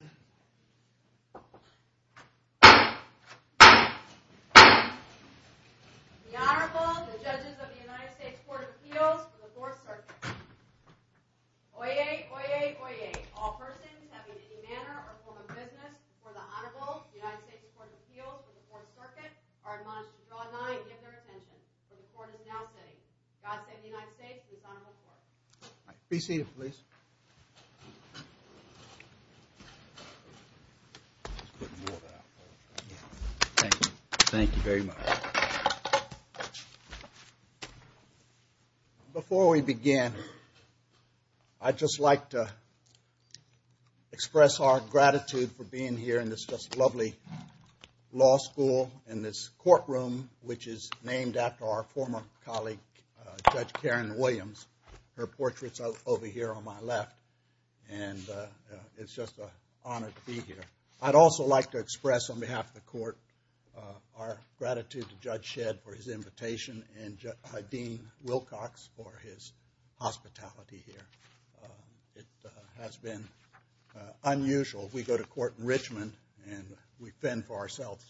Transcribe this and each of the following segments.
The Honorable, the Judges of the United States Court of Appeals for the Fourth Circuit. Oyez, oyez, oyez. All persons having any manner or form of business before the Honorable United States Court of Appeals for the Fourth Circuit are admonished to draw a nine and give their attention. The Court is now sitting. God save the United States and His Honorable Court. Be seated, please. Thank you very much. Before we begin, I'd just like to express our gratitude for being here in this just lovely law school in this courtroom, which is named after our former colleague, Judge Karen Williams. Her portrait's over here on my left. And it's just an honor to be here. I'd also like to express on behalf of the Court our gratitude to Judge Shedd for his invitation and Dean Wilcox for his hospitality here. It has been unusual. We go to court in Richmond and we fend for ourselves.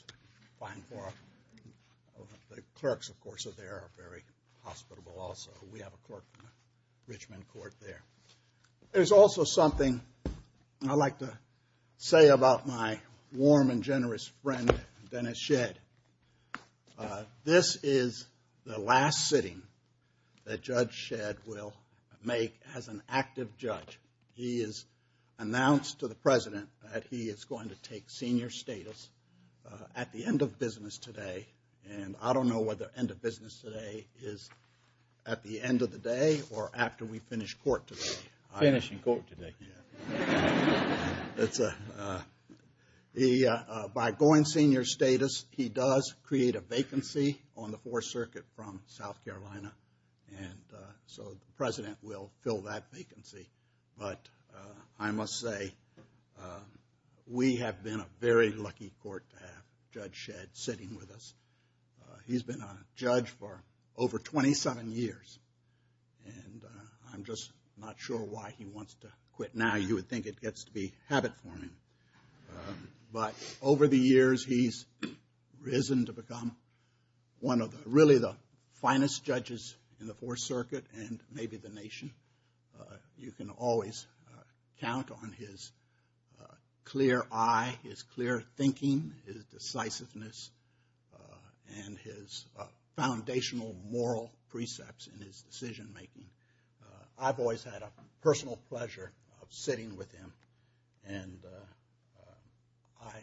The clerks, of course, are there, are very hospitable also. We have a clerk in the Richmond court there. There's also something I'd like to say about my warm and generous friend, Dennis Shedd. This is the last sitting that Judge Shedd will make as an active judge. He has announced to the President that he is going to take senior status at the end of business today. And I don't know whether end of business today is at the end of the day or after we finish court today. Finish in court today. By going senior status, he does create a vacancy on the Fourth Circuit from South Carolina. And so the President will fill that vacancy. But I must say we have been a very lucky court to have Judge Shedd sitting with us. He's been a judge for over 27 years. And I'm just not sure why he wants to quit now. You would think it gets to be habit forming. But over the years, he's risen to become one of really the finest judges in the Fourth Circuit and maybe the nation. You can always count on his clear eye, his clear thinking, his decisiveness, and his foundational moral precepts in his decision making. I've always had a personal pleasure of sitting with him. And I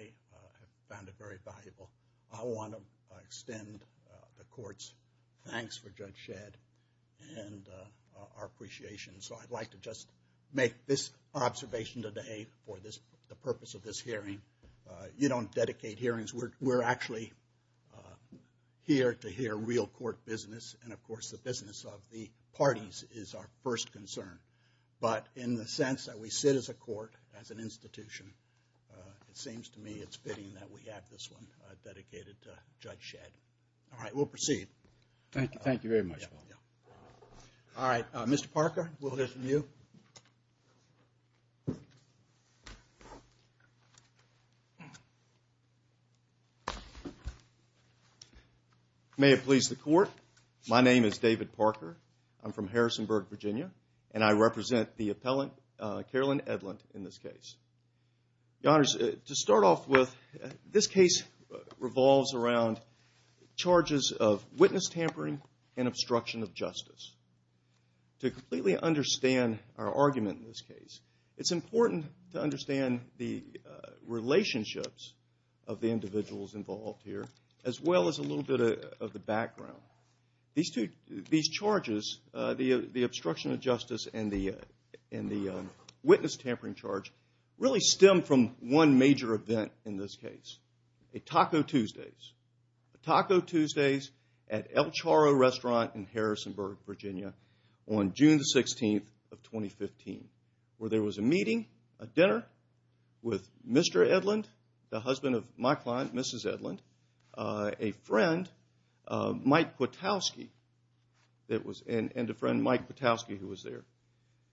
found it very valuable. I want to extend the court's thanks for Judge Shedd and our appreciation. So I'd like to just make this observation today for the purpose of this hearing. You don't dedicate hearings. We're actually here to hear real court business. And, of course, the business of the parties is our first concern. But in the sense that we sit as a court, as an institution, it seems to me it's fitting that we have this one dedicated to Judge Shedd. All right, we'll proceed. Thank you very much. All right, Mr. Parker, we'll listen to you. May it please the court, my name is David Parker. I'm from Harrisonburg, Virginia, and I represent the appellant, Carolyn Edlund, in this case. Your Honors, to start off with, this case revolves around charges of witness tampering and obstruction of justice. To completely understand our argument in this case, it's important to understand the relationships of the individuals involved here, as well as a little bit of the background. These charges, the obstruction of justice and the witness tampering charge, really stem from one major event in this case, a Taco Tuesdays. Taco Tuesdays at El Chorro Restaurant in Harrisonburg, Virginia, on June the 16th of 2015, where there was a meeting, a dinner, with Mr. Edlund, the husband of my client, Mrs. Edlund, a friend, Mike Potowski, and a friend, Mike Potowski, who was there.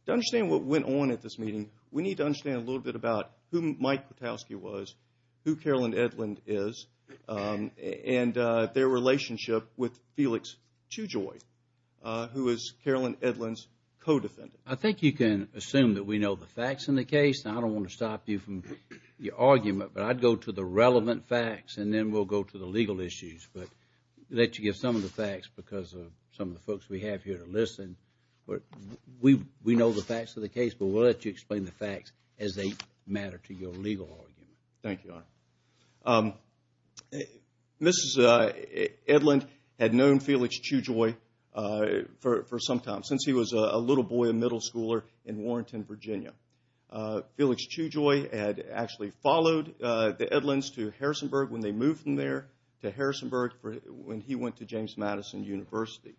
To understand what went on at this meeting, we need to understand a little bit about who Mike Potowski was, who Carolyn Edlund is, and their relationship with Felix Chujoy, who is Carolyn Edlund's co-defendant. I think you can assume that we know the facts in the case, and I don't want to stop you from your argument, but I'd go to the relevant facts, and then we'll go to the legal issues, but let you get some of the facts, because of some of the folks we have here to listen. We know the facts of the case, but we'll let you explain the facts, as they matter to your legal argument. Thank you, Your Honor. Mrs. Edlund had known Felix Chujoy for some time, since he was a little boy, a middle schooler, in Warrington, Virginia. Felix Chujoy had actually followed the Edlunds to Harrisonburg when they moved from there, to Harrisonburg when he went to James Madison University.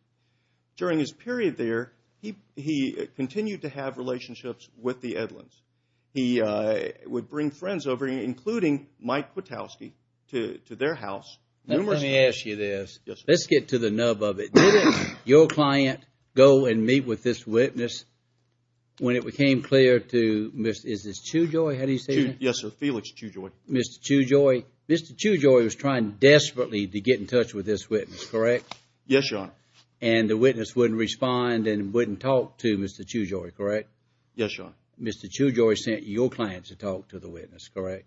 During his period there, he continued to have relationships with the Edlunds. He would bring friends over, including Mike Potowski, to their house. Now, let me ask you this. Let's get to the nub of it. Did your client go and meet with this witness when it became clear to Mrs. Chujoy? How do you say that? Yes, sir. Felix Chujoy. Mr. Chujoy was trying desperately to get in touch with this witness, correct? Yes, Your Honor. And the witness wouldn't respond and wouldn't talk to Mr. Chujoy, correct? Yes, Your Honor. Mr. Chujoy sent your client to talk to the witness, correct?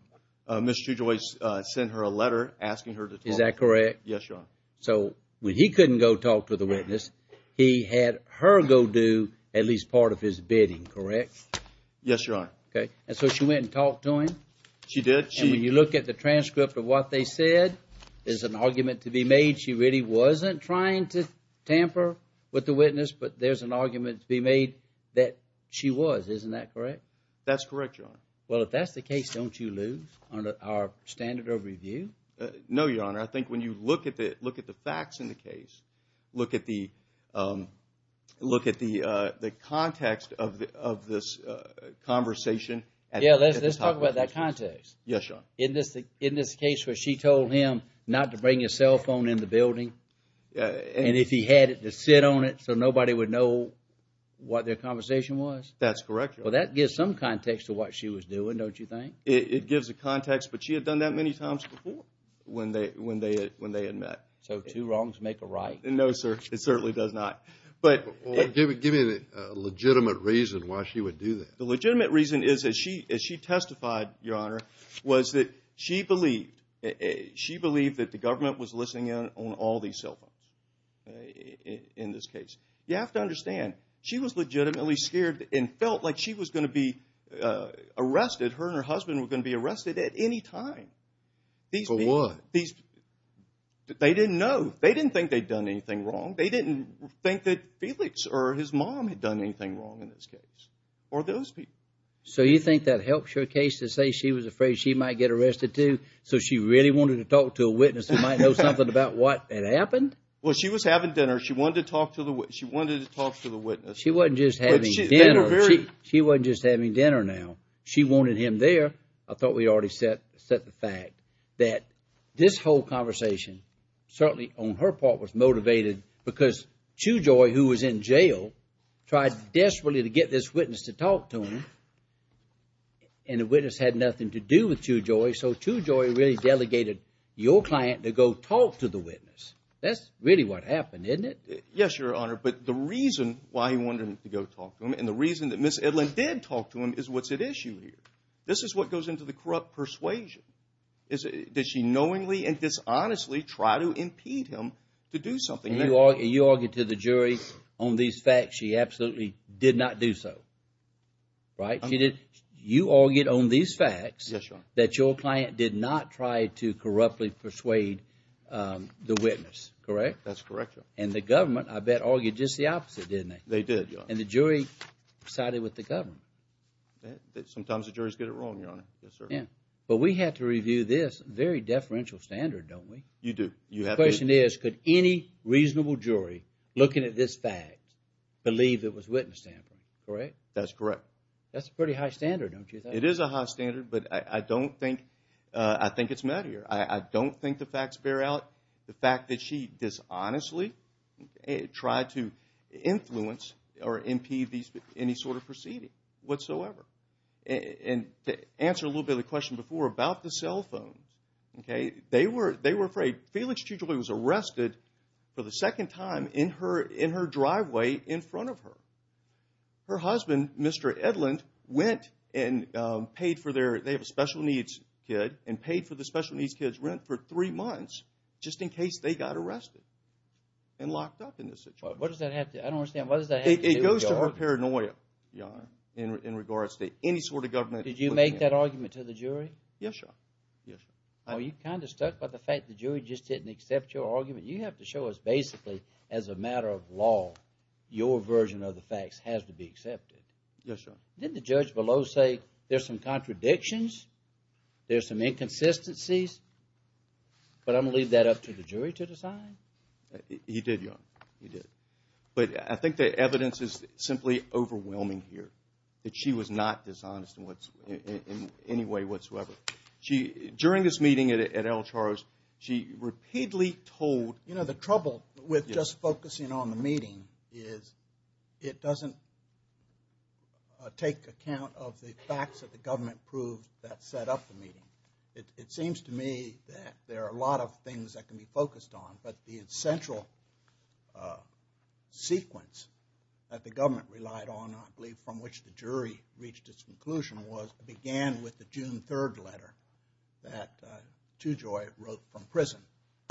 Mr. Chujoy sent her a letter asking her to talk to him. Is that correct? Yes, Your Honor. So when he couldn't go talk to the witness, he had her go do at least part of his bidding, correct? Yes, Your Honor. Okay. And so she went and talked to him? She did. And when you look at the transcript of what they said, there's an argument to be made she really wasn't trying to tamper with the witness, but there's an argument to be made that she was. Isn't that correct? That's correct, Your Honor. Well, if that's the case, don't you lose our standard of review? No, Your Honor. I think when you look at the facts in the case, look at the context of this conversation. Yeah, let's talk about that context. Yes, Your Honor. In this case where she told him not to bring his cell phone in the building, and if he had it, to sit on it so nobody would know what their conversation was? That's correct, Your Honor. Well, that gives some context to what she was doing, don't you think? It gives a context, but she had done that many times before when they had met. So two wrongs make a right. No, sir. It certainly does not. Give me a legitimate reason why she would do that. The legitimate reason is that she testified, Your Honor, was that she believed that the government was listening in on all these cell phones in this case. You have to understand, she was legitimately scared and felt like she was going to be arrested. She didn't think that her and her husband were going to be arrested at any time. For what? They didn't know. They didn't think they'd done anything wrong. They didn't think that Felix or his mom had done anything wrong in this case or those people. So you think that helps your case to say she was afraid she might get arrested, too, so she really wanted to talk to a witness who might know something about what had happened? Well, she was having dinner. She wanted to talk to the witness. She wasn't just having dinner. She wanted him there. I thought we already set the fact that this whole conversation, certainly on her part, was motivated because Chewjoy, who was in jail, tried desperately to get this witness to talk to him, and the witness had nothing to do with Chewjoy, so Chewjoy really delegated your client to go talk to the witness. That's really what happened, isn't it? Yes, Your Honor, but the reason why he wanted to go talk to him and the reason that Ms. Edlin did talk to him is what's at issue here. This is what goes into the corrupt persuasion. Did she knowingly and dishonestly try to impede him to do something? You argued to the jury on these facts she absolutely did not do so, right? You argued on these facts that your client did not try to corruptly persuade the witness, correct? That's correct, Your Honor. And the government, I bet, argued just the opposite, didn't they? They did, Your Honor. And the jury sided with the government. Sometimes the juries get it wrong, Your Honor. Yes, sir. But we have to review this very deferential standard, don't we? You do. The question is could any reasonable jury looking at this fact believe it was witness tampering, correct? That's correct. That's a pretty high standard, don't you think? It is a high standard, but I don't think it's met here. I don't think the facts bear out. The fact that she dishonestly tried to influence or impede any sort of proceeding whatsoever. And to answer a little bit of the question before about the cell phones, okay, they were afraid. Phelan Strugoli was arrested for the second time in her driveway in front of her. Her husband, Mr. Edlund, went and paid for their – they have a special needs kid and paid for the special needs kid's rent for three months just in case they got arrested and locked up in this situation. What does that have to – I don't understand. What does that have to do with the government? It goes to her paranoia, Your Honor, in regards to any sort of government. Did you make that argument to the jury? Yes, sir. Yes, sir. Well, you're kind of stuck by the fact the jury just didn't accept your argument. You have to show us basically as a matter of law your version of the facts has to be accepted. Yes, sir. Didn't the judge below say there's some contradictions, there's some inconsistencies, but I'm going to leave that up to the jury to decide? He did, Your Honor. He did. But I think the evidence is simply overwhelming here, that she was not dishonest in any way whatsoever. During this meeting at El Charro's, she repeatedly told – You know, the trouble with just focusing on the meeting is it doesn't take account of the facts that the government proved that set up the meeting. It seems to me that there are a lot of things that can be focused on, but the essential sequence that the government relied on, I believe from which the jury reached its conclusion, was it began with the June 3rd letter that Tujoy wrote from prison.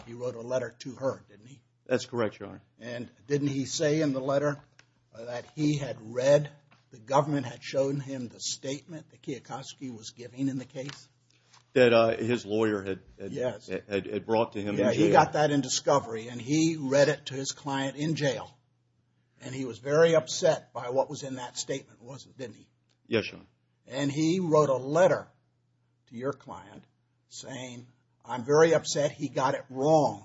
He wrote a letter to her, didn't he? That's correct, Your Honor. And didn't he say in the letter that he had read, the government had shown him the statement that Kiyokoski was giving in the case? That his lawyer had brought to him in jail. Yeah, he got that in discovery, and he read it to his client in jail, and he was very upset by what was in that statement, wasn't he? Yes, Your Honor. And he wrote a letter to your client saying, I'm very upset, he got it wrong,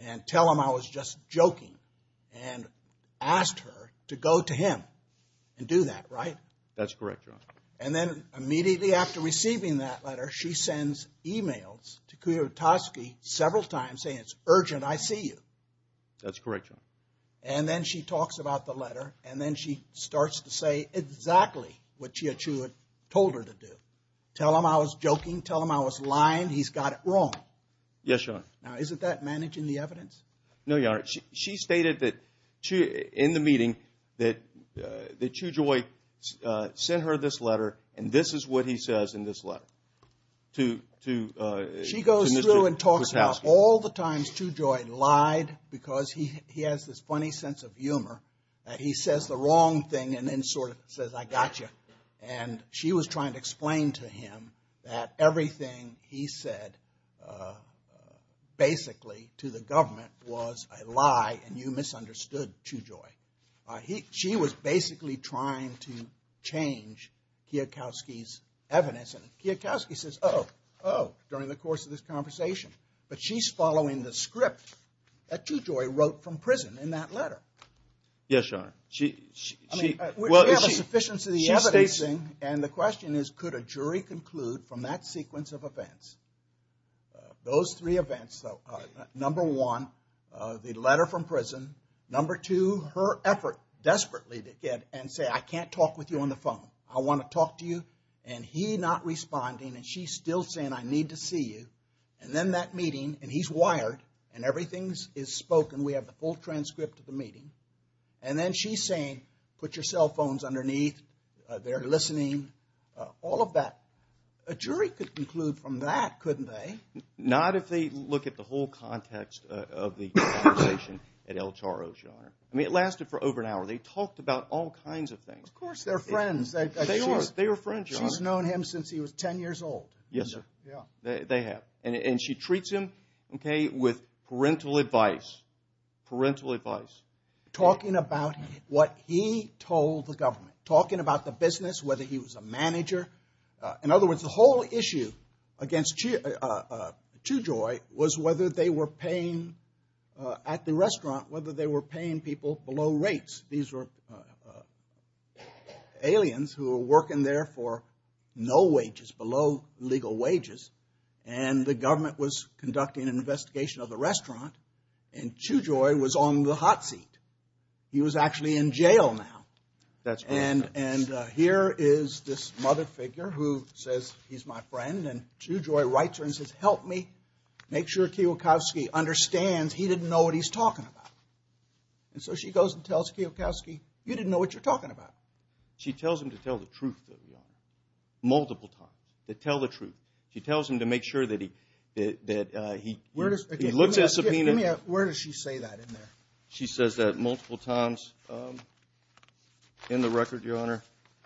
and tell him I was just joking, and asked her to go to him and do that, right? That's correct, Your Honor. And then immediately after receiving that letter, she sends emails to Kiyokoski several times saying, it's urgent, I see you. That's correct, Your Honor. And then she talks about the letter, and then she starts to say exactly what Chia Chu had told her to do. Tell him I was joking, tell him I was lying, he's got it wrong. Yes, Your Honor. Now, isn't that managing the evidence? No, Your Honor. She stated in the meeting that Chu Joy sent her this letter, and this is what he says in this letter to Mr. Kiyokoski. She goes through and talks about all the times Chu Joy lied because he has this funny sense of humor, that he says the wrong thing and then sort of says, I got you. And she was trying to explain to him that everything he said basically to the government was a lie and you misunderstood Chu Joy. She was basically trying to change Kiyokoski's evidence, and Kiyokoski says, oh, oh, during the course of this conversation. But she's following the script that Chu Joy wrote from prison in that letter. Yes, Your Honor. We have a sufficiency of the evidence. And the question is, could a jury conclude from that sequence of events, those three events, number one, the letter from prison, number two, her effort desperately to get and say, I can't talk with you on the phone. I want to talk to you. And he's not responding, and she's still saying, I need to see you. And then that meeting, and he's wired, and everything is spoken. We have the full transcript of the meeting. And then she's saying, put your cell phones underneath. They're listening. All of that. A jury could conclude from that, couldn't they? Not if they look at the whole context of the conversation at El Charro, Your Honor. I mean, it lasted for over an hour. They talked about all kinds of things. Of course, they're friends. They are. They were friends, Your Honor. She's known him since he was 10 years old. Yes, sir. Yeah. They have. And she treats him, okay, with parental advice. Parental advice. Talking about what he told the government. Talking about the business, whether he was a manager. In other words, the whole issue against Tujoy was whether they were paying at the restaurant, whether they were paying people below rates. These were aliens who were working there for no wages, below legal wages. And the government was conducting an investigation of the restaurant. And Tujoy was on the hot seat. He was actually in jail now. That's correct, Your Honor. And here is this mother figure who says, he's my friend. And Tujoy writes her and says, help me make sure Kiwakowski understands he didn't know what he's talking about. And so she goes and tells Kiwakowski, you didn't know what you're talking about. She tells him to tell the truth, though, Your Honor. Multiple times. To tell the truth. She tells him to make sure that he looks at subpoena. Where does she say that in there? She says that multiple times in the record, Your Honor.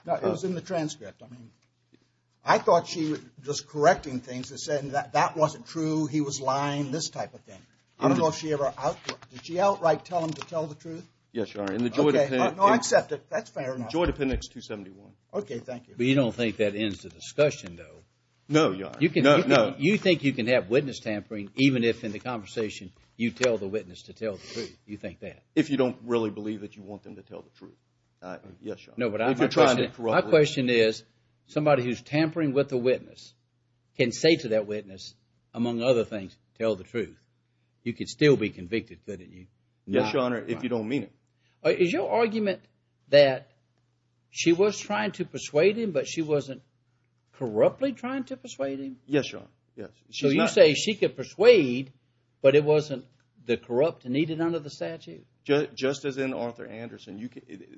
It was in the transcript. I mean, I thought she was just correcting things and saying that that wasn't true, he was lying, this type of thing. I don't know if she ever outright, did she outright tell him to tell the truth? Yes, Your Honor. No, I accept it. That's fair enough. Tujoy appendix 271. Okay, thank you. But you don't think that ends the discussion, though? No, Your Honor. No, no. You think you can have witness tampering even if in the conversation you tell the witness to tell the truth, you think that? If you don't really believe that you want them to tell the truth. Yes, Your Honor. No, but my question is, somebody who's tampering with the witness can say to that witness, among other things, tell the truth. You could still be convicted, couldn't you? Yes, Your Honor, if you don't mean it. Is your argument that she was trying to persuade him, but she wasn't corruptly trying to persuade him? Yes, Your Honor, yes. So you say she could persuade, but it wasn't the corrupt needed under the statute? Just as in Arthur Anderson,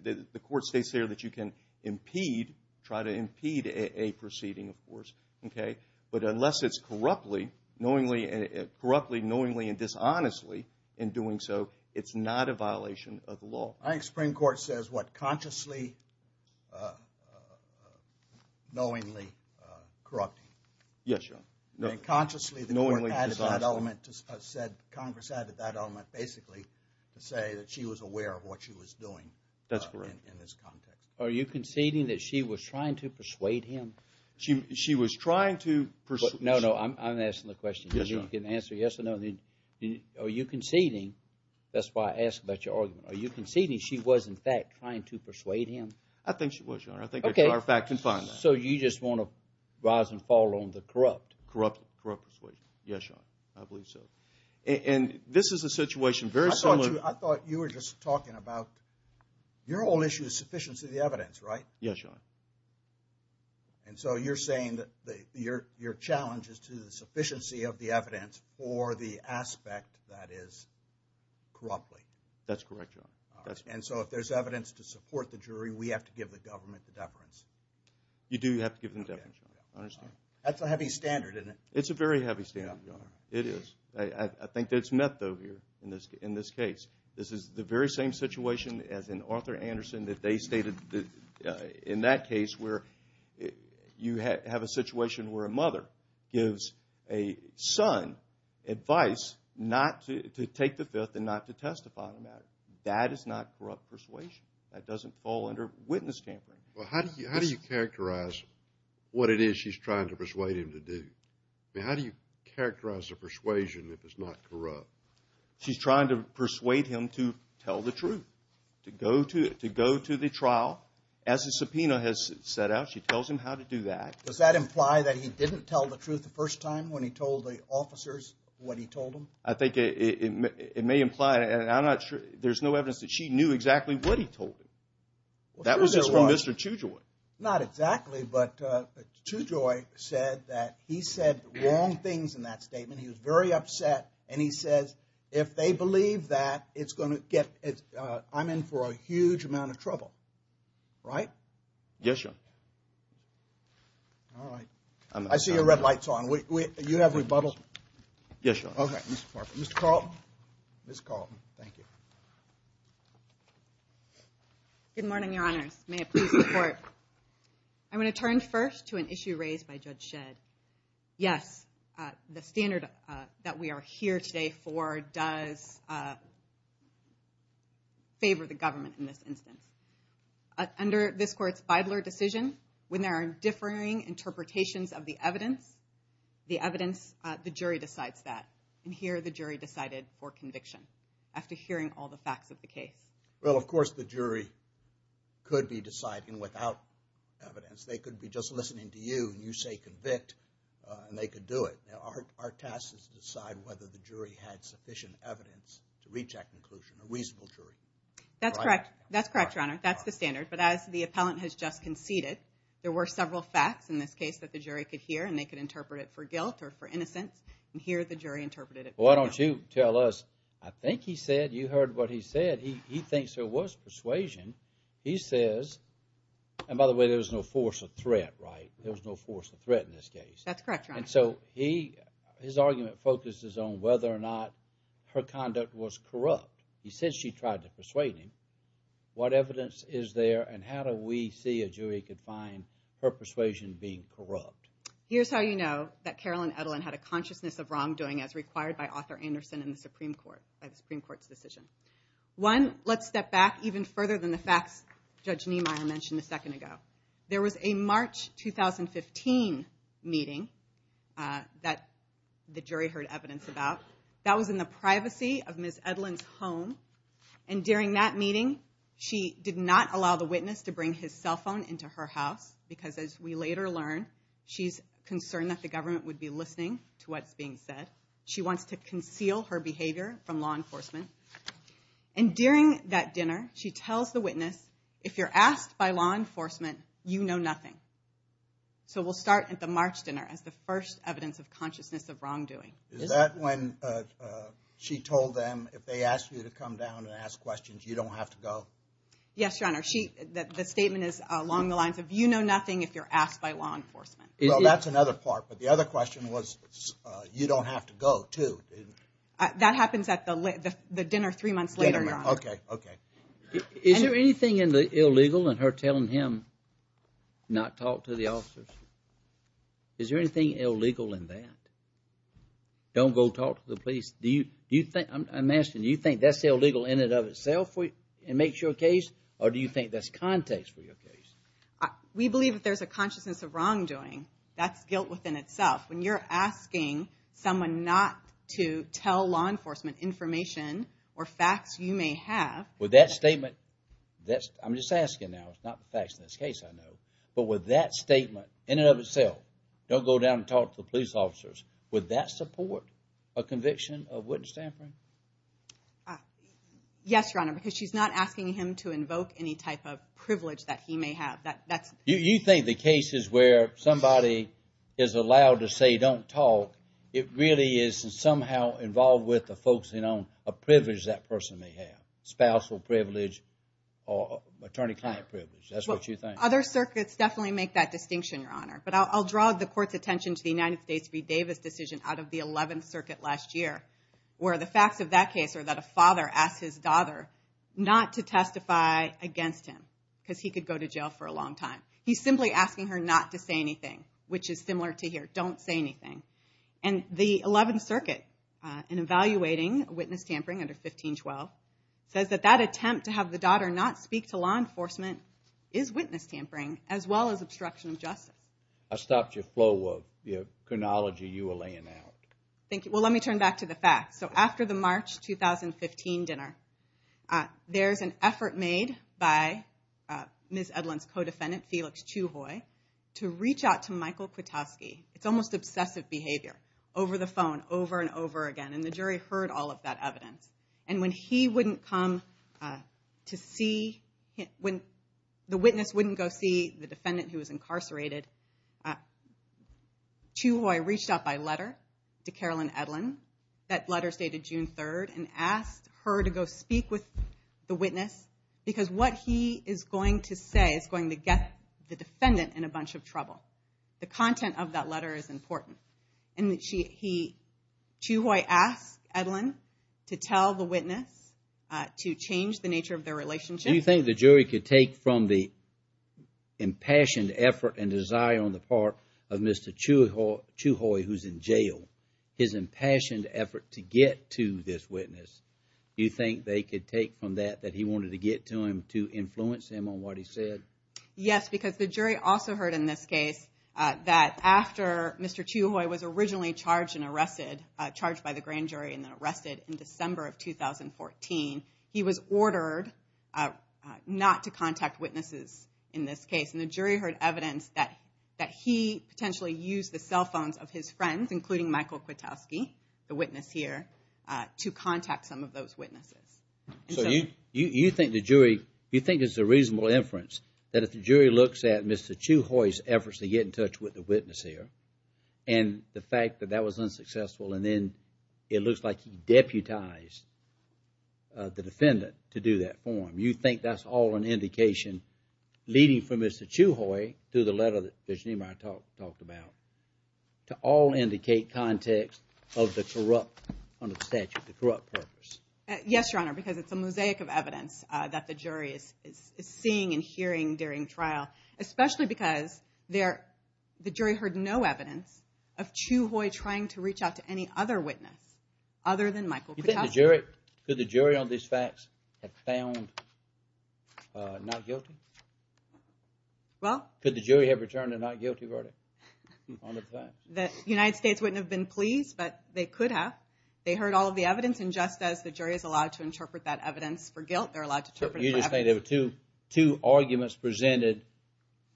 the court states there that you can impede, try to impede a proceeding, of course, okay? But unless it's corruptly, knowingly and dishonestly in doing so, it's not a violation of the law. I think Supreme Court says what? Consciously, knowingly corrupting. Yes, Your Honor. Consciously, the court added that element, said Congress added that element basically to say that she was aware of what she was doing in this context. That's correct. Are you conceding that she was trying to persuade him? She was trying to persuade him. No, no, I'm asking the question. Yes, Your Honor. You can answer yes or no. Are you conceding, that's why I asked about your argument, are you conceding she was in fact trying to persuade him? I think she was, Your Honor. Okay. I think our fact can find that. So you just want to rise and fall on the corrupt? Corrupt persuasion, yes, Your Honor, I believe so. And this is a situation very similar. Yes, Your Honor. And so you're saying that your challenge is to the sufficiency of the evidence for the aspect that is corruptly? That's correct, Your Honor. And so if there's evidence to support the jury, we have to give the government the deference? You do have to give them deference, Your Honor, I understand. That's a heavy standard, isn't it? It's a very heavy standard, Your Honor, it is. I think that's method here in this case. This is the very same situation as in Arthur Anderson that they stated in that case where you have a situation where a mother gives a son advice not to take the fifth and not to testify on that. That is not corrupt persuasion. That doesn't fall under witness tampering. Well, how do you characterize what it is she's trying to persuade him to do? I mean, how do you characterize the persuasion if it's not corrupt? She's trying to persuade him to tell the truth, to go to the trial. As the subpoena has set out, she tells him how to do that. Does that imply that he didn't tell the truth the first time when he told the officers what he told them? I think it may imply, and I'm not sure, there's no evidence that she knew exactly what he told them. That was just from Mr. Chujoi. Not exactly, but Chujoi said that he said wrong things in that statement. He was very upset, and he says if they believe that, it's going to get – I'm in for a huge amount of trouble, right? Yes, Your Honor. All right. I see your red light's on. You have rebuttal? Yes, Your Honor. Okay. Mr. Carlton. Ms. Carlton. Thank you. Good morning, Your Honors. May it please the Court. I'm going to turn first to an issue raised by Judge Shedd. Yes, the standard that we are here today for does favor the government in this instance. Under this Court's Feidler decision, when there are differing interpretations of the evidence, the evidence, the jury decides that. And here, the jury decided for conviction after hearing all the facts of the case. Well, of course, the jury could be deciding without evidence. They could be just listening to you. You say convict, and they could do it. Our task is to decide whether the jury had sufficient evidence to reach that conclusion, a reasonable jury. That's correct. That's correct, Your Honor. That's the standard. But as the appellant has just conceded, there were several facts in this case that the jury could hear, and they could interpret it for guilt or for innocence. And here, the jury interpreted it for conviction. Well, why don't you tell us, I think he said, you heard what he said, he thinks there was persuasion. He says, and by the way, there was no force of threat, right? There was no force of threat in this case. That's correct, Your Honor. And so he, his argument focuses on whether or not her conduct was corrupt. He says she tried to persuade him. What evidence is there, and how do we see a jury could find her persuasion being corrupt? Here's how you know that Carolyn Edelen had a consciousness of wrongdoing, as required by author Anderson in the Supreme Court, by the Supreme Court's decision. One, let's step back even further than the facts Judge Niemeyer mentioned a second ago. There was a March 2015 meeting that the jury heard evidence about. That was in the privacy of Ms. Edelen's home. And during that meeting, she did not allow the witness to bring his cell phone into her house, because as we later learn, she's concerned that the government would be listening to what's being said. She wants to conceal her behavior from law enforcement. And during that dinner, she tells the witness, if you're asked by law enforcement, you know nothing. So we'll start at the March dinner as the first evidence of consciousness of wrongdoing. Is that when she told them, if they ask you to come down and ask questions, you don't have to go? Yes, Your Honor, the statement is along the lines of, you know nothing if you're asked by law enforcement. Well, that's another part, but the other question was, you don't have to go, too. That happens at the dinner three months later, Your Honor. Okay, okay. Is there anything illegal in her telling him not to talk to the officers? Is there anything illegal in that? Don't go talk to the police. I'm asking, do you think that's illegal in and of itself and makes your case, or do you think that's context for your case? We believe that there's a consciousness of wrongdoing. That's guilt within itself. When you're asking someone not to tell law enforcement information or facts you may have. With that statement, I'm just asking now, it's not the facts in this case I know, but with that statement in and of itself, don't go down and talk to the police officers, would that support a conviction of witness tampering? Yes, Your Honor, because she's not asking him to invoke any type of privilege that he may have. You think the cases where somebody is allowed to say don't talk, it really is somehow involved with the folks, you know, a privilege that person may have, spousal privilege or attorney-client privilege. That's what you think. Other circuits definitely make that distinction, Your Honor, but I'll draw the court's attention to the United States v. Davis decision out of the 11th Circuit last year where the facts of that case are that a father asked his daughter not to testify against him because he could go to jail for a long time. He's simply asking her not to say anything, which is similar to here, don't say anything. And the 11th Circuit, in evaluating witness tampering under 1512, says that that attempt to have the daughter not speak to law enforcement is witness tampering as well as obstruction of justice. I stopped your flow of chronology you were laying out. Thank you. Well, let me turn back to the facts. So after the March 2015 dinner, there's an effort made by Ms. Edlund's co-defendant, Felix Chuhoy, to reach out to Michael Kwiatkowski. It's almost obsessive behavior, over the phone, over and over again, and the jury heard all of that evidence. And when the witness wouldn't go see the defendant who was incarcerated, Chuhoy reached out by letter to Carolyn Edlund, that letter dated June 3rd, and asked her to go speak with the witness because what he is going to say is going to get the defendant in a bunch of trouble. The content of that letter is important. Chuhoy asked Edlund to tell the witness to change the nature of their relationship. Do you think the jury could take from the impassioned effort and desire on the part of Mr. Chuhoy, who's in jail, his impassioned effort to get to this witness, do you think they could take from that that he wanted to get to him to influence him on what he said? Yes, because the jury also heard in this case that after Mr. Chuhoy was originally charged and arrested, charged by the grand jury and then arrested in December of 2014, he was ordered not to contact witnesses in this case. And the jury heard evidence that he potentially used the cell phones of his friends, including Michael Kwiatkowski, the witness here, to contact some of those witnesses. So you think the jury, you think it's a reasonable inference that if the jury looks at Mr. Chuhoy's efforts to get in touch with the witness here and the fact that that was unsuccessful and then it looks like he deputized the defendant to do that form, you think that's all an indication leading from Mr. Chuhoy to the letter that Virginia and I talked about to all indicate context of the corrupt, under the statute, the corrupt purpose? Yes, Your Honor, because it's a mosaic of evidence that the jury is seeing and hearing during trial, especially because the jury heard no evidence of Chuhoy trying to reach out to any other witness other than Michael Kwiatkowski. Could the jury on these facts have found not guilty? Well... Could the jury have returned a not guilty verdict on the facts? The United States wouldn't have been pleased, but they could have. They heard all of the evidence and just as the jury is allowed to interpret that evidence for guilt, they're allowed to interpret it for evidence. You're just saying there were two arguments presented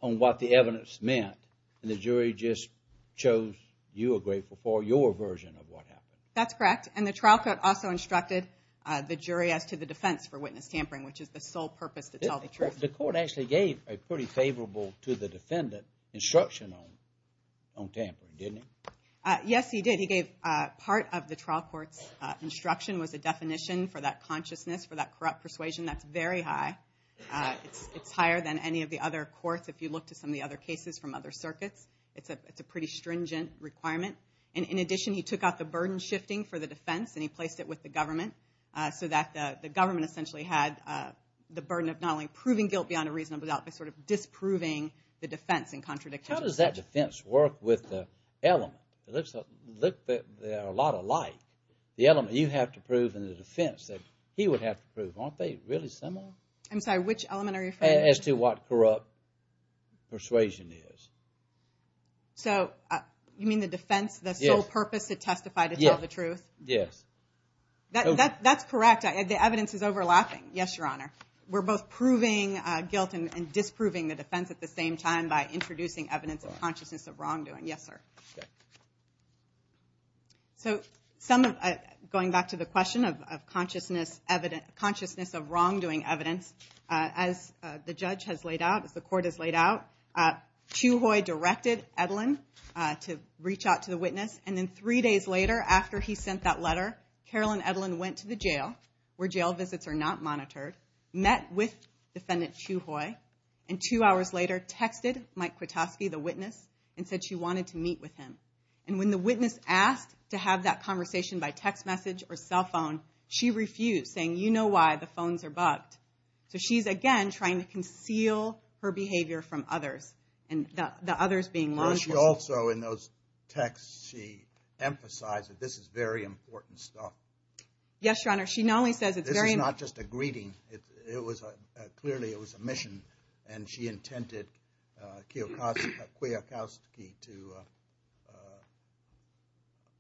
on what the evidence meant and the jury just chose you were grateful for your version of what happened. That's correct. And the trial court also instructed the jury as to the defense for witness tampering which is the sole purpose to tell the truth. The court actually gave a pretty favorable to the defendant instruction on tampering, didn't it? Yes, he did. He gave part of the trial court's instruction was a definition for that consciousness, for that corrupt persuasion. That's very high. It's higher than any of the other courts if you look to some of the other cases from other circuits. It's a pretty stringent requirement. In addition, he took out the burden shifting for the defense and he placed it with the government so that the government essentially had the burden of not only proving guilt beyond a reasonable doubt, but sort of disproving the defense in contradiction. How does that defense work with the element? They look a lot alike. The element you have to prove and the defense that he would have to prove. Aren't they really similar? I'm sorry, which element are you referring to? As to what corrupt persuasion is. So you mean the defense, the sole purpose to testify to tell the truth? Yes. That's correct. The evidence is overlapping. Yes, Your Honor. We're both proving guilt and disproving the defense at the same time by introducing evidence of consciousness of wrongdoing. Yes, sir. So going back to the question of consciousness of wrongdoing evidence, as the judge has laid out, as the court has laid out, Chuhoy directed Edlin to reach out to the witness, and then three days later after he sent that letter, Carol and Edlin went to the jail where jail visits are not monitored, met with Defendant Chuhoy, and two hours later texted Mike Kwiatkowski, the witness, and said she wanted to meet with him. And when the witness asked to have that conversation by text message or cell phone, she refused, saying, you know why, the phones are bugged. So she's, again, trying to conceal her behavior from others, and the others being law enforcement. She also, in those texts, she emphasized that this is very important stuff. Yes, Your Honor. She not only says it's very important. This is not just a greeting. Clearly it was a mission, and she intended Kwiatkowski to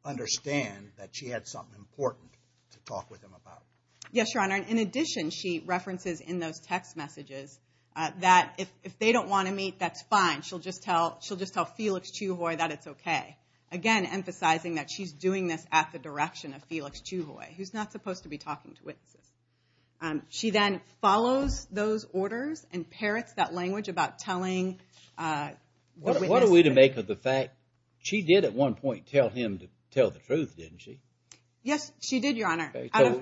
understand that she had something important to talk with him about. Yes, Your Honor. In addition, she references in those text messages that if they don't want to meet, that's fine. She'll just tell Felix Chuhoy that it's okay. Again, emphasizing that she's doing this at the direction of Felix Chuhoy, who's not supposed to be talking to witnesses. She then follows those orders and parrots that language about telling the witness. What are we to make of the fact, she did at one point tell him to tell the truth, didn't she? Yes, she did, Your Honor.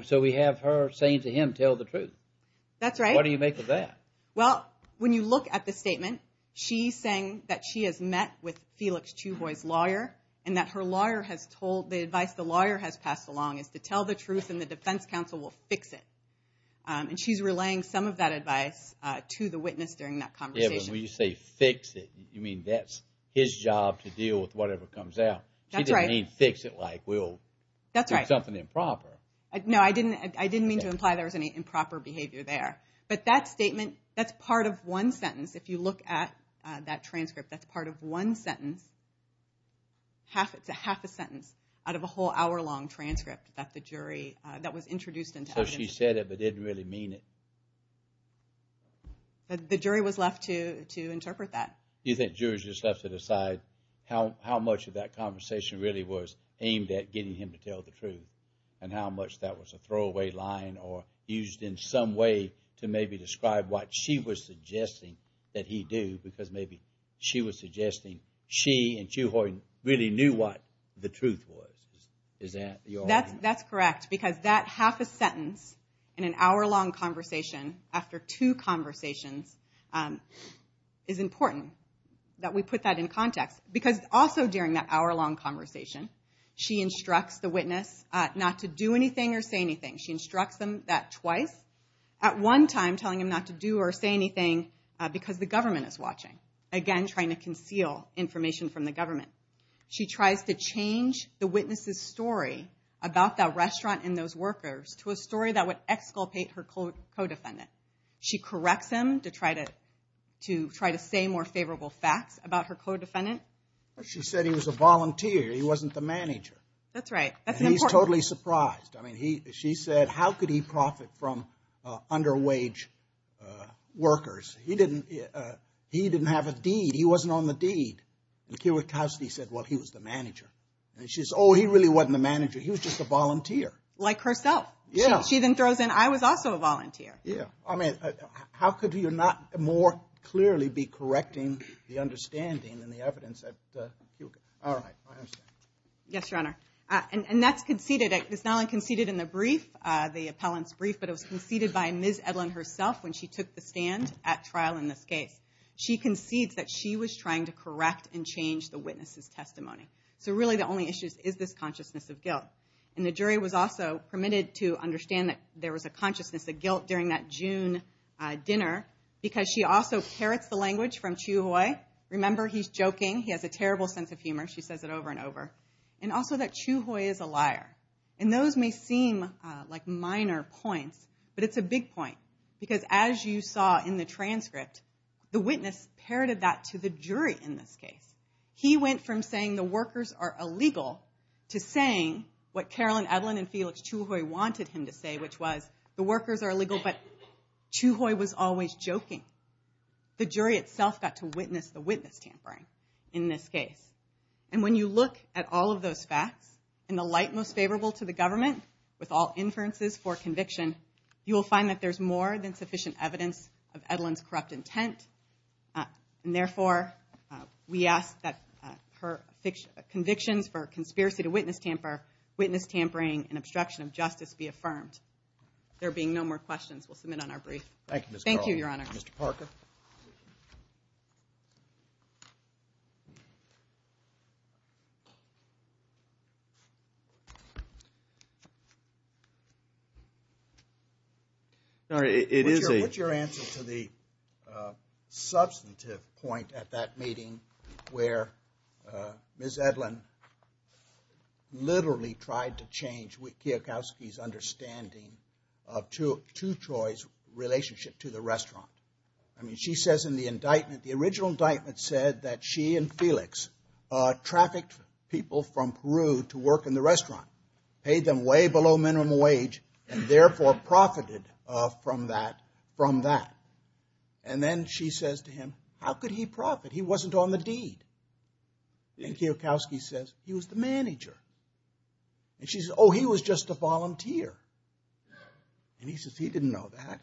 So we have her saying to him, tell the truth. That's right. What do you make of that? Well, when you look at the statement, she's saying that she has met with Felix Chuhoy's lawyer and that her lawyer has told, the advice the lawyer has passed along is to tell the truth and the defense counsel will fix it. And she's relaying some of that advice to the witness during that conversation. Yeah, but when you say fix it, you mean that's his job to deal with whatever comes out. That's right. She didn't mean fix it like we'll do something improper. No, I didn't mean to imply there was any improper behavior there. But that statement, that's part of one sentence. If you look at that transcript, that's part of one sentence. It's a half a sentence out of a whole hour-long transcript that the jury, that was introduced into evidence. So she said it but didn't really mean it. The jury was left to interpret that. Do you think the jury was just left to decide how much of that conversation really was aimed at getting him to tell the truth and how much that was a throwaway line or used in some way to maybe describe what she was suggesting that he do because maybe she was suggesting she and Chewhart really knew what the truth was? Is that your argument? That's correct because that half a sentence in an hour-long conversation after two conversations is important that we put that in context because also during that hour-long conversation, she instructs the witness not to do anything or say anything. She instructs them that twice. At one time, telling them not to do or say anything because the government is watching. Again, trying to conceal information from the government. She tries to change the witness's story about that restaurant and those workers to a story that would exculpate her co-defendant. She corrects him to try to say more favorable facts about her co-defendant. She said he was a volunteer, he wasn't the manager. That's right. He's totally surprised. She said, how could he profit from under-wage workers? He didn't have a deed. He wasn't on the deed. Chewhart Cowsley said, well, he was the manager. She said, oh, he really wasn't the manager. He was just a volunteer. Like herself. She then throws in, I was also a volunteer. How could you not more clearly be correcting the understanding and the evidence? All right, I understand. Yes, Your Honor. And that's conceded. It's not only conceded in the brief, the appellant's brief, but it was conceded by Ms. Edlin herself when she took the stand at trial in this case. She concedes that she was trying to correct and change the witness's testimony. So really the only issue is this consciousness of guilt. And the jury was also permitted to understand that there was a consciousness of guilt during that June dinner because she also parrots the language from Chewhart. Remember, he's joking. He has a terrible sense of humor. She says it over and over. And also that Chewhart is a liar. And those may seem like minor points, but it's a big point. Because as you saw in the transcript, the witness parroted that to the jury in this case. He went from saying the workers are illegal to saying what Carolyn Edlin and Felix Chewhart wanted him to say, which was the workers are illegal, but Chewhart was always joking. The jury itself got to witness the witness tampering in this case. And when you look at all of those facts in the light most favorable to the government with all inferences for conviction, you will find that there's more than sufficient evidence of Edlin's corrupt intent. And therefore, we ask that her convictions for conspiracy to witness tamper, witness tampering, and obstruction of justice be affirmed. There being no more questions, we'll submit on our brief. Thank you, Ms. Garland. Thank you, Your Honor. Thank you, Mr. Parker. Sorry, it is a- What's your answer to the substantive point at that meeting where Ms. Edlin literally tried to change Kiyokoski's understanding of two Troys' relationship to the restaurant? I mean, she says in the indictment, the original indictment said that she and Felix trafficked people from Peru to work in the restaurant, paid them way below minimum wage, and therefore profited from that. And then she says to him, how could he profit? He wasn't on the deed. And Kiyokoski says, he was the manager. And she says, oh, he was just a volunteer. And he says, he didn't know that.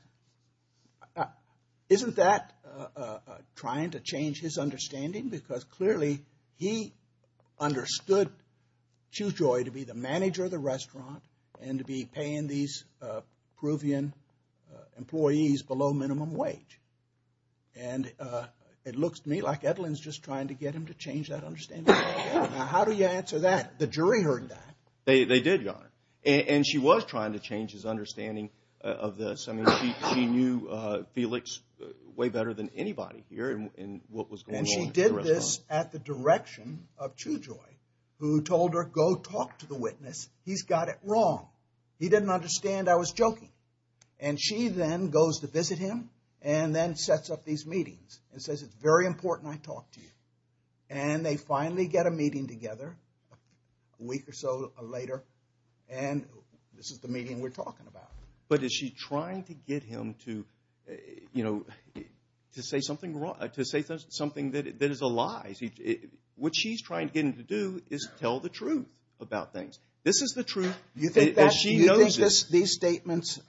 Isn't that trying to change his understanding? Because clearly, he understood Chewjoy to be the manager of the restaurant and to be paying these Peruvian employees below minimum wage. And it looks to me like Edlin's just trying to get him to change that understanding. Now, how do you answer that? The jury heard that. They did, Your Honor. And she was trying to change his understanding of this. I mean, she knew Felix way better than anybody here in what was going on at the restaurant. And she did this at the direction of Chewjoy, who told her, go talk to the witness. He's got it wrong. He didn't understand I was joking. And she then goes to visit him and then sets up these meetings and says, it's very important I talk to you. And they finally get a meeting together a week or so later, and this is the meeting we're talking about. But is she trying to get him to say something that is a lie? What she's trying to get him to do is tell the truth about things. This is the truth. She knows this. You think these statements,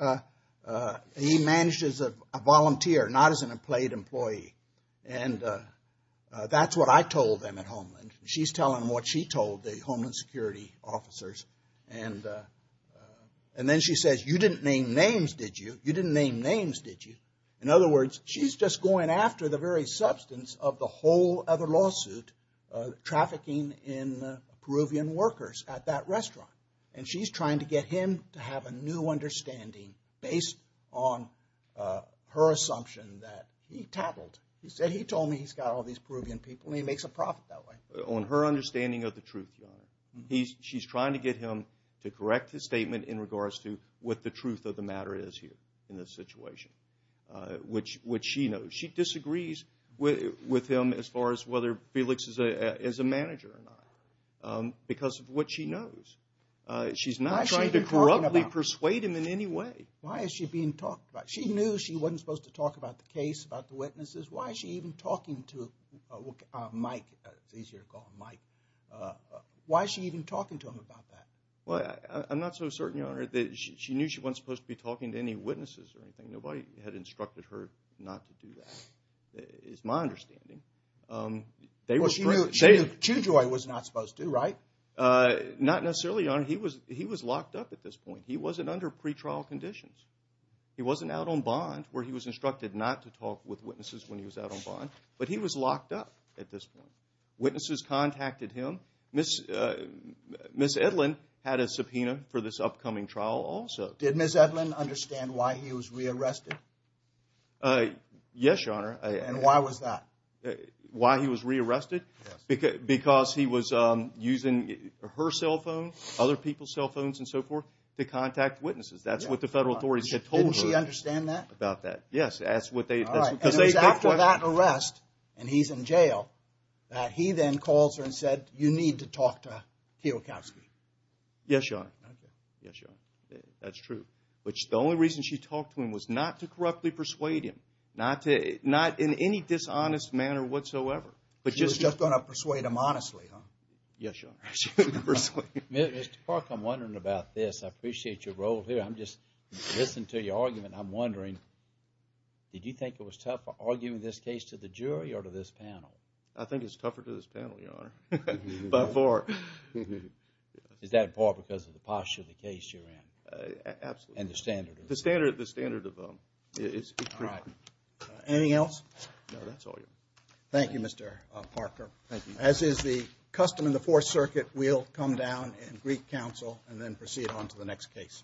he managed as a volunteer, not as an employed employee. And that's what I told them at Homeland. She's telling them what she told the Homeland Security officers. And then she says, you didn't name names, did you? You didn't name names, did you? In other words, she's just going after the very substance of the whole other lawsuit, trafficking in Peruvian workers at that restaurant. And she's trying to get him to have a new understanding based on her assumption that he tattled. He said he told me he's got all these Peruvian people, and he makes a profit that way. On her understanding of the truth, Your Honor, she's trying to get him to correct his statement in regards to what the truth of the matter is here in this situation, which she knows. She disagrees with him as far as whether Felix is a manager or not because of what she knows. She's not trying to corruptly persuade him in any way. Why is she being talked about? She knew she wasn't supposed to talk about the case, about the witnesses. Why is she even talking to Mike? It's easier to call him Mike. Why is she even talking to him about that? I'm not so certain, Your Honor, that she knew she wasn't supposed to be talking to any witnesses or anything. Nobody had instructed her not to do that is my understanding. She knew Chewjoy was not supposed to, right? Not necessarily, Your Honor. He was locked up at this point. He wasn't under pretrial conditions. He wasn't out on bond where he was instructed not to talk with witnesses when he was out on bond. But he was locked up at this point. Witnesses contacted him. Ms. Edlin had a subpoena for this upcoming trial also. Did Ms. Edlin understand why he was re-arrested? Yes, Your Honor. And why was that? Why he was re-arrested? Yes. Because he was using her cell phone, other people's cell phones and so forth, to contact witnesses. That's what the federal authorities had told her. Did she understand that? About that, yes. All right. And it was after that arrest, and he's in jail, that he then calls her and said, you need to talk to Keokowsky. Yes, Your Honor. Okay. Yes, Your Honor. That's true. Which the only reason she talked to him was not to corruptly persuade him, not in any dishonest manner whatsoever. She was just going to persuade him honestly, huh? Yes, Your Honor. She was going to persuade him. Mr. Clark, I'm wondering about this. I appreciate your role here. I'm just listening to your argument. I'm wondering, did you think it was tough arguing this case to the jury or to this panel? I think it's tougher to this panel, Your Honor. By far. Is that far because of the posture of the case you're in? Absolutely. And the standard? The standard is correct. All right. Anything else? No, that's all, Your Honor. Thank you, Mr. Parker. Thank you. As is the custom in the Fourth Circuit, we'll come down and greet counsel and then proceed on to the next case.